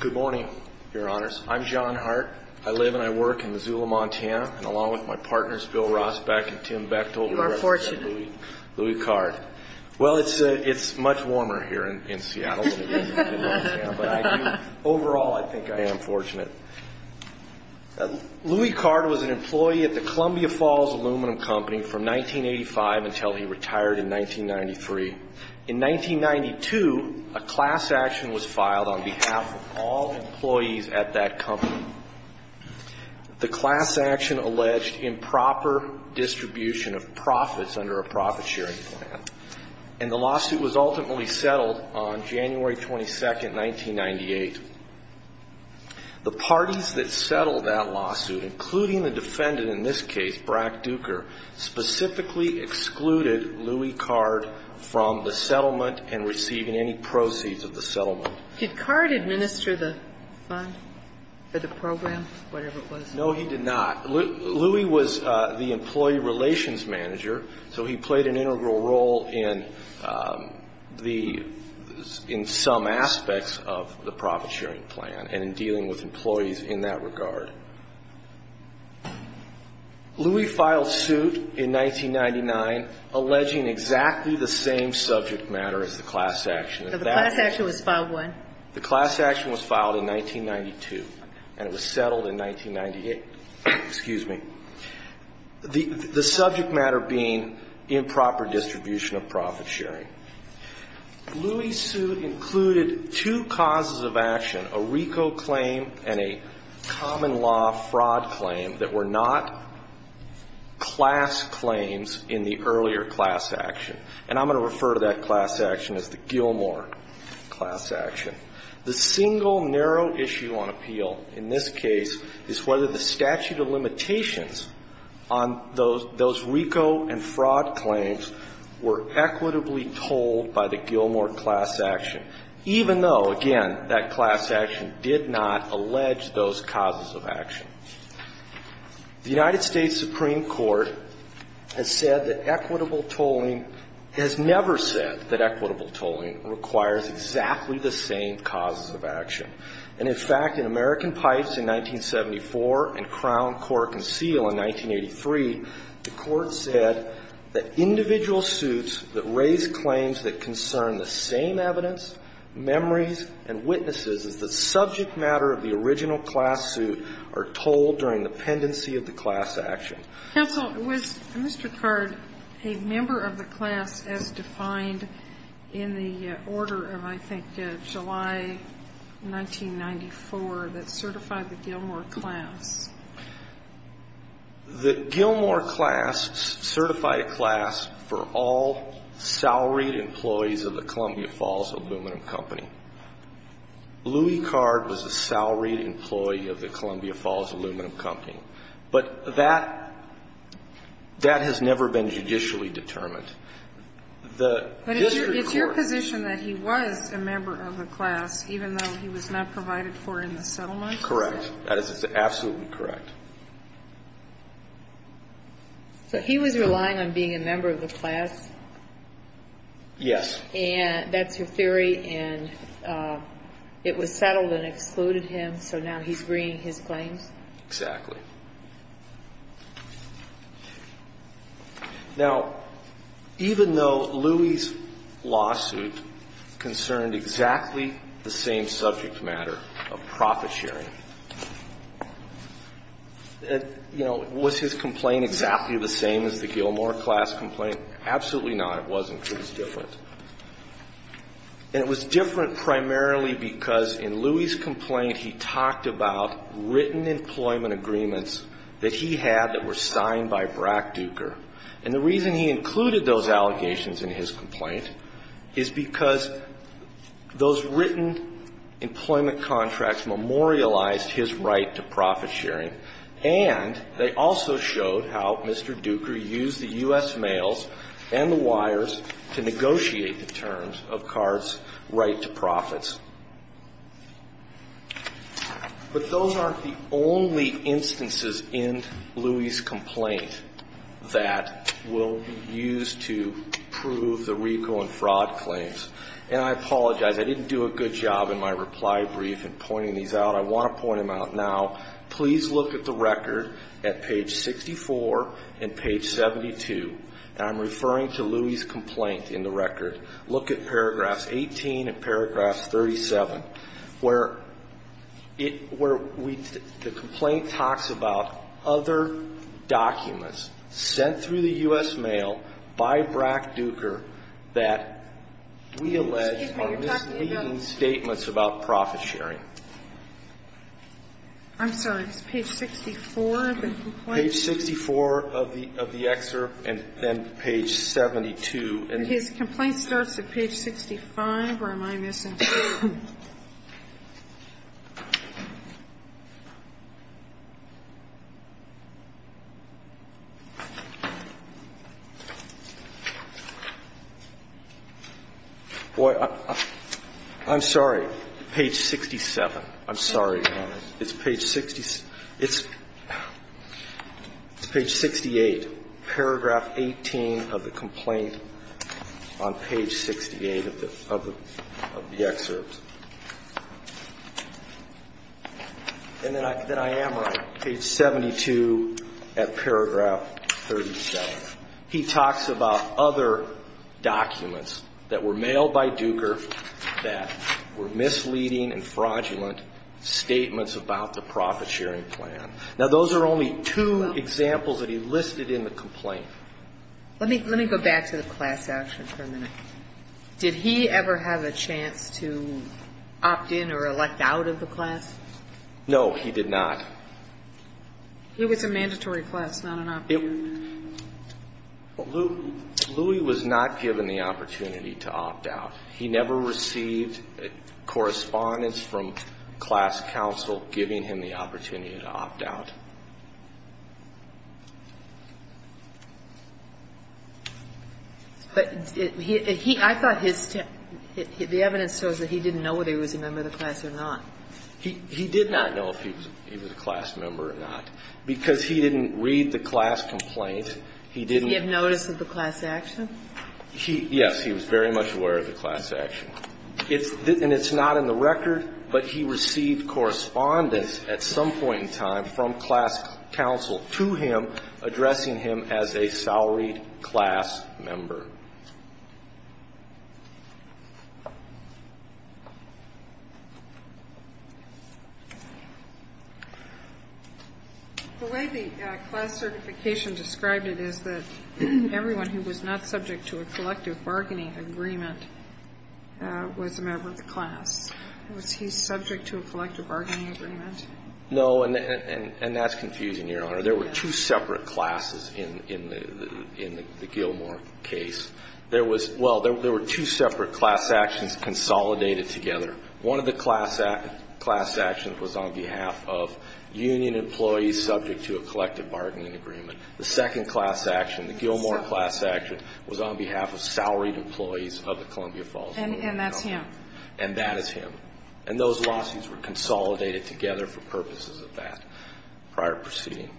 Good morning, your honors. I'm John Hart. I live and I work in Missoula, Montana, and along with my partners Bill Rosbeck and Tim Bechtel, we represent Louis Card. Well, it's much warmer here in Seattle than it is in Montana, but overall I think I am fortunate. Louis Card was an employee at the Columbia Falls Aluminum Company from 1985 until he retired in 1993. In 1992, a class action was filed on behalf of all employees at that company. The class action alleged improper distribution of profits under a profit-sharing plan, and the lawsuit was ultimately settled on January 22, 1998. The parties that settled that lawsuit, including the defendant in this case, Brack Duker, specifically excluded Louis Card from the settlement and receiving any proceeds of the settlement. Did Card administer the fund for the program, whatever it was? No, he did not. Louis was the employee relations manager, so he played an integral role in the, in some aspects of the profit-sharing plan and in dealing with employees in that regard. Louis filed suit in 1999 alleging exactly the same subject matter as the class action. So the class action was filed when? The class action was filed in 1992, and it was settled in 1998. Excuse me. The subject matter being improper distribution of profit-sharing. Louis' suit included two causes of action, a RICO claim and a common law fraud claim that were not class claims in the earlier class action. And I'm going to refer to that class action as the Gilmore class action. The single narrow issue on appeal in this case is whether the statute of limitations on those RICO and fraud claims were equitably tolled by the Gilmore class action, even though, again, that class action did not allege those causes of action. The United States Supreme Court has said that equitable tolling has never said that equitable tolling requires exactly the same causes of action. And, in fact, in American Court of Appeals in 1983, the Court said that individual suits that raise claims that concern the same evidence, memories and witnesses as the subject matter of the original class suit are tolled during the pendency of the class action. Counsel, was Mr. Card a member of the class as defined in the order of, I think, July 1994 that certified the Gilmore class? The Gilmore class certified a class for all salaried employees of the Columbia Falls Aluminum Company. Louie Card was a salaried employee of the Columbia Falls Aluminum Company. But that has never been judicially determined. The district court ---- Even though he was not provided for in the settlement? Correct. That is absolutely correct. So he was relying on being a member of the class? Yes. And that's your theory, and it was settled and excluded him, so now he's bringing his claims? Exactly. Now, even though Louie's lawsuit concerned exactly the same evidence, the same subject matter of profit sharing, you know, was his complaint exactly the same as the Gilmore class complaint? Absolutely not. It wasn't. It was different. And it was different primarily because in Louie's complaint, he talked about written employment agreements that he had that were signed by Brack Duker. And the reason he included those allegations in his complaint is because those written employment contracts memorialized his right to profit sharing, and they also showed how Mr. Duker used the U.S. mails and the wires to negotiate the terms of Card's right to profits. But those aren't the only instances in Louie's complaint that will be used to prove the RICO and fraud claims. And I apologize. I didn't do a good job in my reply brief in pointing these out. I want to point them out now. Please look at the record at page 64 and page 72. And I'm referring to Louie's complaint in the record. Look at paragraphs 18 and paragraph 37, where it – where we – the U.S. mail by Brack Duker that we allege are misleading statements about profit sharing. I'm sorry. It's page 64 of the complaint? Page 64 of the excerpt and then page 72. And his complaint starts at page 65, or am I missing something? Boy, I'm sorry. Page 67. I'm sorry. It's page 68. Paragraph 18 of the complaint on page 68 of the excerpt. And then I am right. Page 72 at paragraph 37. He talks about other documents that were mailed by Duker that were misleading and fraudulent statements about the profit sharing plan. Now, those are only two examples that he listed in the complaint. Let me go back to the class action for a minute. Did he ever have a chance to opt in or elect out of the class? No, he did not. He was a mandatory class, not an opt-in. Louie was not given the opportunity to opt out. He never received correspondence from class counsel giving him the opportunity to opt out. But he – I thought his – the evidence shows that he didn't know whether he was a member of the class or not. He did not know if he was a class member or not, because he didn't read the class complaint. He didn't – Did he have notice of the class action? Yes. He was very much aware of the class action. And it's not in the record, but he received correspondence at some point in time from class counsel to him addressing him as a salaried class member. The way the class certification described it is that everyone who was not subject to a collective bargaining agreement was a member of the class. Was he subject to a collective bargaining agreement? No, and that's confusing, Your Honor. There were two separate classes in the Gilmore case. There was – well, there were two separate class actions consolidated together. One of the class actions was on behalf of union employees subject to a collective bargaining agreement. The second class action, the Gilmore class action, was on behalf of salaried employees of the Columbia Falls. And that's him. And that is him. And those lawsuits were consolidated together for purposes of that prior proceeding.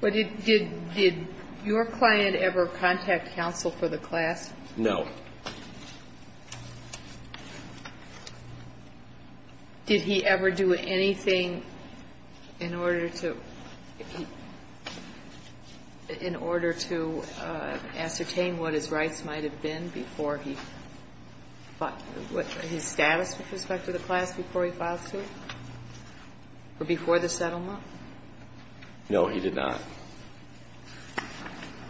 But did your client ever contact counsel for the class? No. Did he ever do anything in order to – in order to ascertain what his rights might have been before he – his status with respect to the class before he filed suit or before the settlement? No, he did not.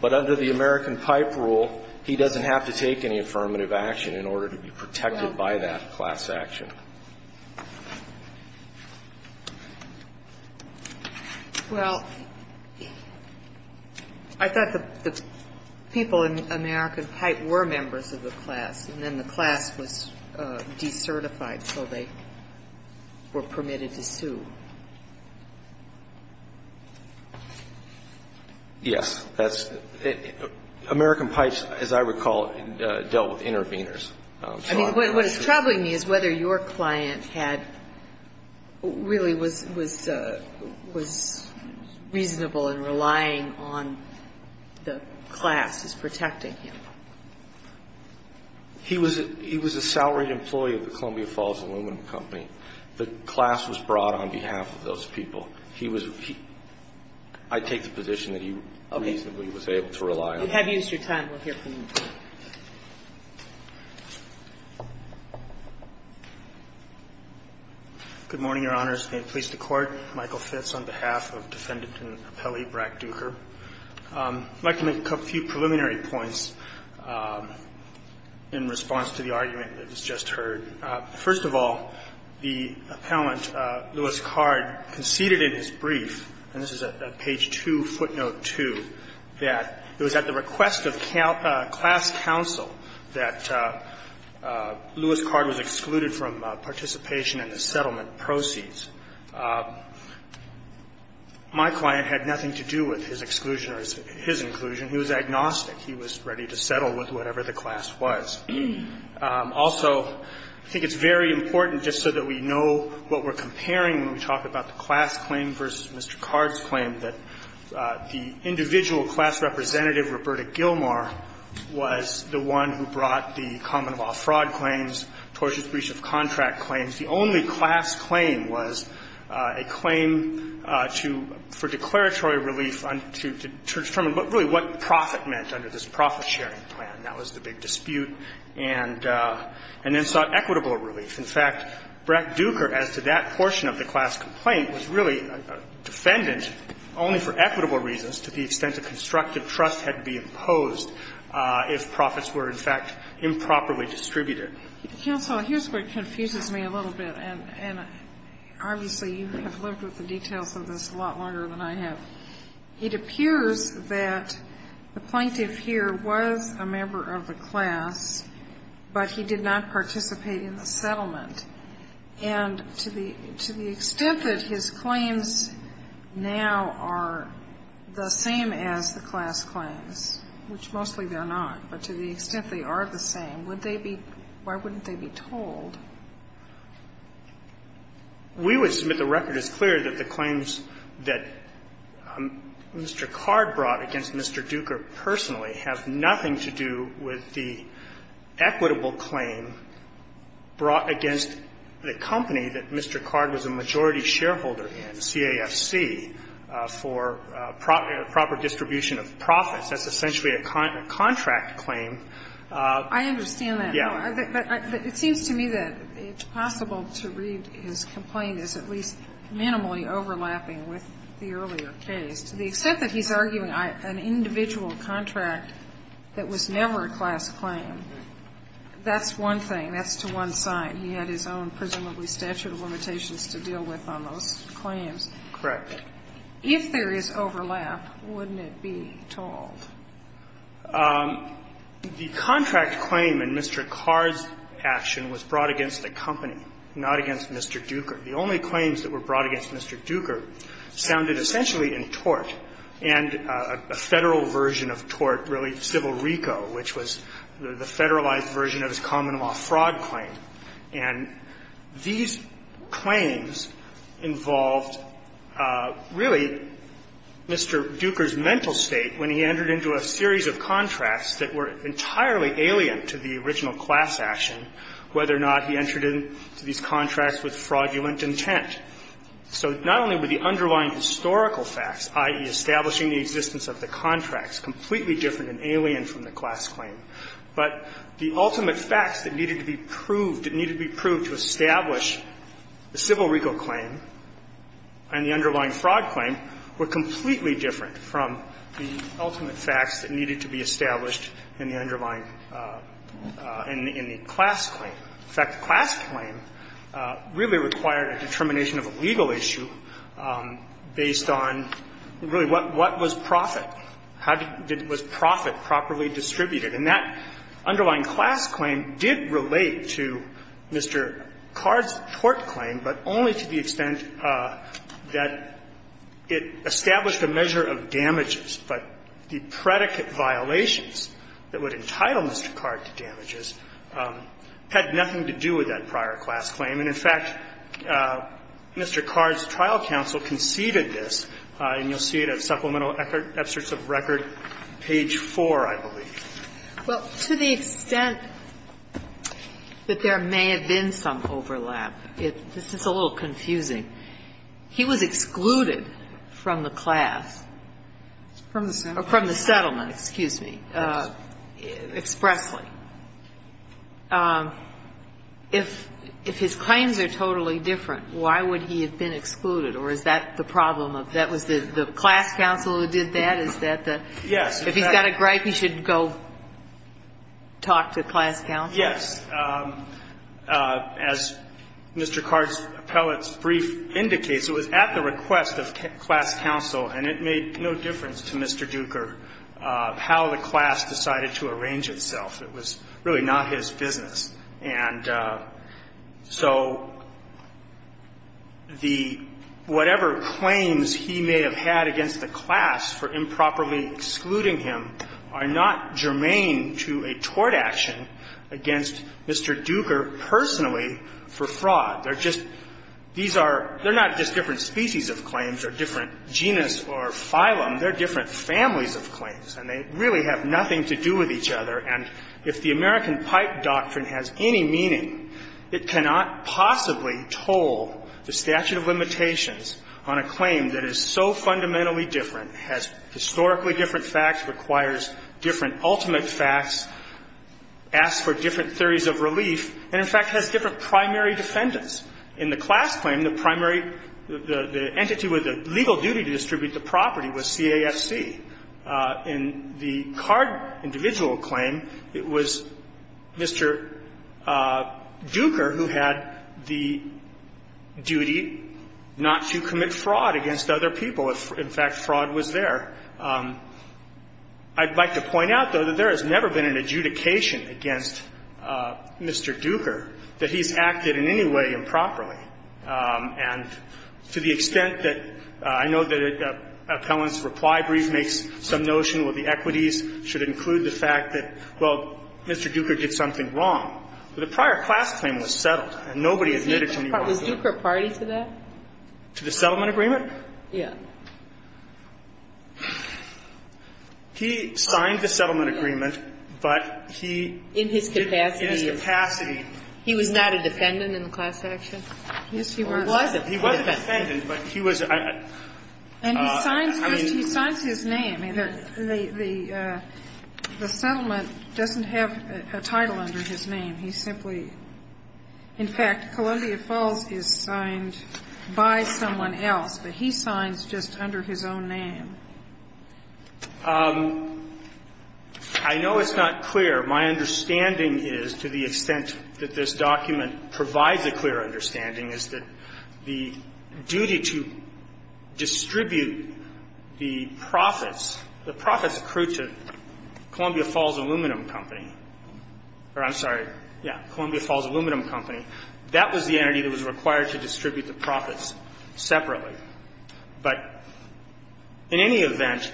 But under the American Pipe rule, he doesn't have to take any affirmative action in order to be protected by that class action. Well, I thought the people in American Pipe were members of the class, and then the class was decertified, so they were permitted to sue. Yes. That's – American Pipe, as I recall, dealt with interveners. I mean, what is troubling me is whether your client had – really was reasonable in relying on the class as protecting him. He was a salaried employee of the Columbia Falls aluminum company. The class was brought on behalf of those people. He was – I take the position that he reasonably was able to rely on them. We have used your time. We'll hear from you. Good morning, Your Honors. May it please the Court. Michael Fitz on behalf of Defendant and Appellee Brack Duker. I'd like to make a few preliminary points in response to the argument that was just heard. First of all, the appellant, Lewis Card, conceded in his brief, and this is at page 2, footnote 2, that it was at the request of class counsel that Lewis Card was excluded from participation in the settlement proceeds. My client had nothing to do with his exclusion or his inclusion. He was agnostic. He was ready to settle with whatever the class was. Also, I think it's very important, just so that we know what we're comparing when we talk about the class claim versus Mr. Card's claim, that the individual class representative, Roberta Gilmore, was the one who brought the common-law fraud claims, tortious breach of contract claims. The only class claim was a claim to – for declaratory relief to determine really what profit meant under this profit-sharing plan. That was the big dispute. And then sought equitable relief. In fact, Brett Duker, as to that portion of the class complaint, was really defendant only for equitable reasons to the extent that constructive trust had to be imposed if profits were, in fact, improperly distributed. Counsel, here's where it confuses me a little bit. And obviously, you have lived with the details of this a lot longer than I have. It appears that the plaintiff here was a member of the class, but he did not participate in the settlement. And to the extent that his claims now are the same as the class claims, which mostly they're not, but to the extent they are the same, would they be – why wouldn't they be told? We would submit the record as clear that the claims that Mr. Card brought against Mr. Duker personally have nothing to do with the equitable claim brought against the company that Mr. Card was a majority shareholder in, CAFC, for proper distribution of profits. That's essentially a contract claim. I understand that. Yeah. But it seems to me that it's possible to read his complaint as at least minimally overlapping with the earlier case. To the extent that he's arguing an individual contract that was never a class claim, that's one thing. That's to one side. He had his own presumably statute of limitations to deal with on those claims. Correct. If there is overlap, wouldn't it be told? The contract claim in Mr. Card's action was brought against the company, not against Mr. Duker. The only claims that were brought against Mr. Duker sounded essentially in tort, and a Federal version of tort, really civil RICO, which was the Federalized version of his common law fraud claim. And these claims involved really Mr. Duker's mental state when he entered into a series of contracts that were entirely alien to the original class action, whether or not he entered into these contracts with fraudulent intent. So not only were the underlying historical facts, i.e., establishing the existence of the contracts, completely different and alien from the class claim, but the ultimate facts that needed to be proved, that needed to be proved to establish the civil RICO claim and the underlying fraud claim were completely different from the ultimate facts that needed to be established in the underlying and in the class claim. In fact, the class claim really required a determination of a legal issue based on, really, what was profit? How did the profit properly distributed? And that underlying class claim did relate to Mr. Card's tort claim, but only to the extent that it established a measure of damages, but the predicate violations that would entitle Mr. Card to damages had nothing to do with that prior class claim, and, in fact, Mr. Card's trial counsel conceded this, and you'll see it at supplemental excerpts of record, page 4, I believe. Well, to the extent that there may have been some overlap, this is a little confusing. He was excluded from the class. From the settlement. From the settlement, excuse me, expressly. If his claims are totally different, why would he have been excluded, or is that the problem? That was the class counsel who did that? Is that the? Yes. If he's got a gripe, he should go talk to class counsel? Yes. As Mr. Card's appellate's brief indicates, it was at the request of class counsel, and it made no difference to Mr. Duker how the class decided to arrange itself. It was really not his business. And so the whatever claims he may have had against the class for improperly excluding him are not germane to a tort action against Mr. Duker personally for fraud. They're just, these are, they're not just different species of claims or different genus or phylum. They're different families of claims, and they really have nothing to do with each other, and if the American Pipe Doctrine has any meaning, it cannot possibly toll the statute of limitations on a claim that is so fundamentally different, has historically different facts, requires different ultimate facts, asks for different theories of relief, and, in fact, has different primary defendants. In the class claim, the primary, the entity with the legal duty to distribute the property was CAFC. In the Card individual claim, it was Mr. Duker who had the duty not to commit fraud against other people. In fact, fraud was there. I'd like to point out, though, that there has never been an adjudication against Mr. Duker that he's acted in any way improperly. And to the extent that I know that Appellant's reply brief makes some notion where the equities should include the fact that, well, Mr. Duker did something wrong. The prior class claim was settled, and nobody admitted to any wrongdoing. Was Duker a party to that? To the settlement agreement? Yeah. He signed the settlement agreement, but he did not in his capacity. In his capacity. He was not a defendant in the class action? Yes, he was. Or was it? He was a defendant, but he was. And he signs his name. The settlement doesn't have a title under his name. He simply – in fact, Columbia Falls is signed by someone else. But he signs just under his own name. I know it's not clear. My understanding is, to the extent that this document provides a clear understanding, is that the duty to distribute the profits, the profits accrued to Columbia Falls Aluminum Company, or I'm sorry, yeah, Columbia Falls Aluminum Company, that was the But in any event,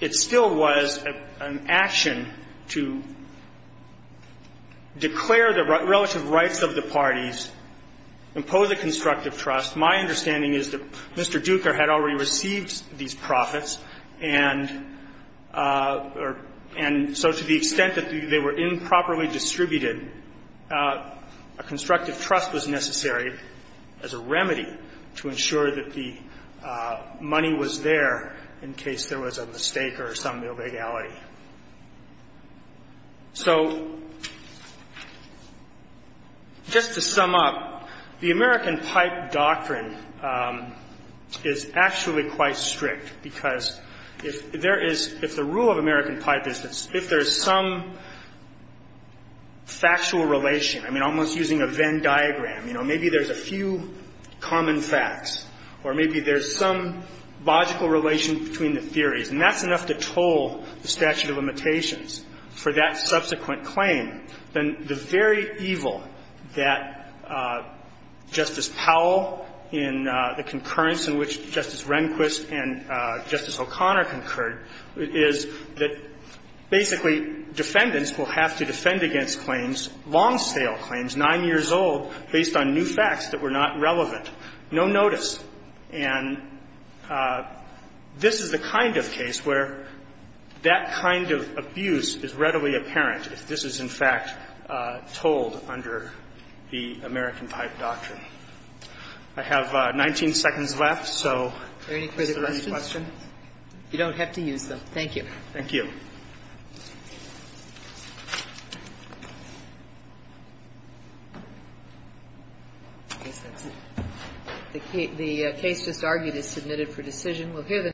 it still was an action to declare the relative rights of the parties, impose a constructive trust. My understanding is that Mr. Duker had already received these profits, and so to the extent that they were improperly distributed, a constructive trust was necessary as a remedy to ensure that the money was there in case there was a mistake or some illegality. So just to sum up, the American Pipe Doctrine is actually quite strict, because if there is – if the rule of American Pipe is that if there is some factual relation, I mean, almost using a Venn diagram, you know, maybe there's a few common facts, or maybe there's some logical relation between the theories, and that's enough to toll the statute of limitations for that subsequent claim, then the very evil that Justice Powell in the concurrence in which Justice Rehnquist and Justice Kagan, in their long-sale claims, 9 years old, based on new facts that were not relevant, no notice. And this is the kind of case where that kind of abuse is readily apparent if this is, in fact, tolled under the American Pipe Doctrine. I have 19 seconds left, so is there any questions? Kagan. You don't have to use them. Thank you. Thank you. The case just argued is submitted for decision. We'll hear the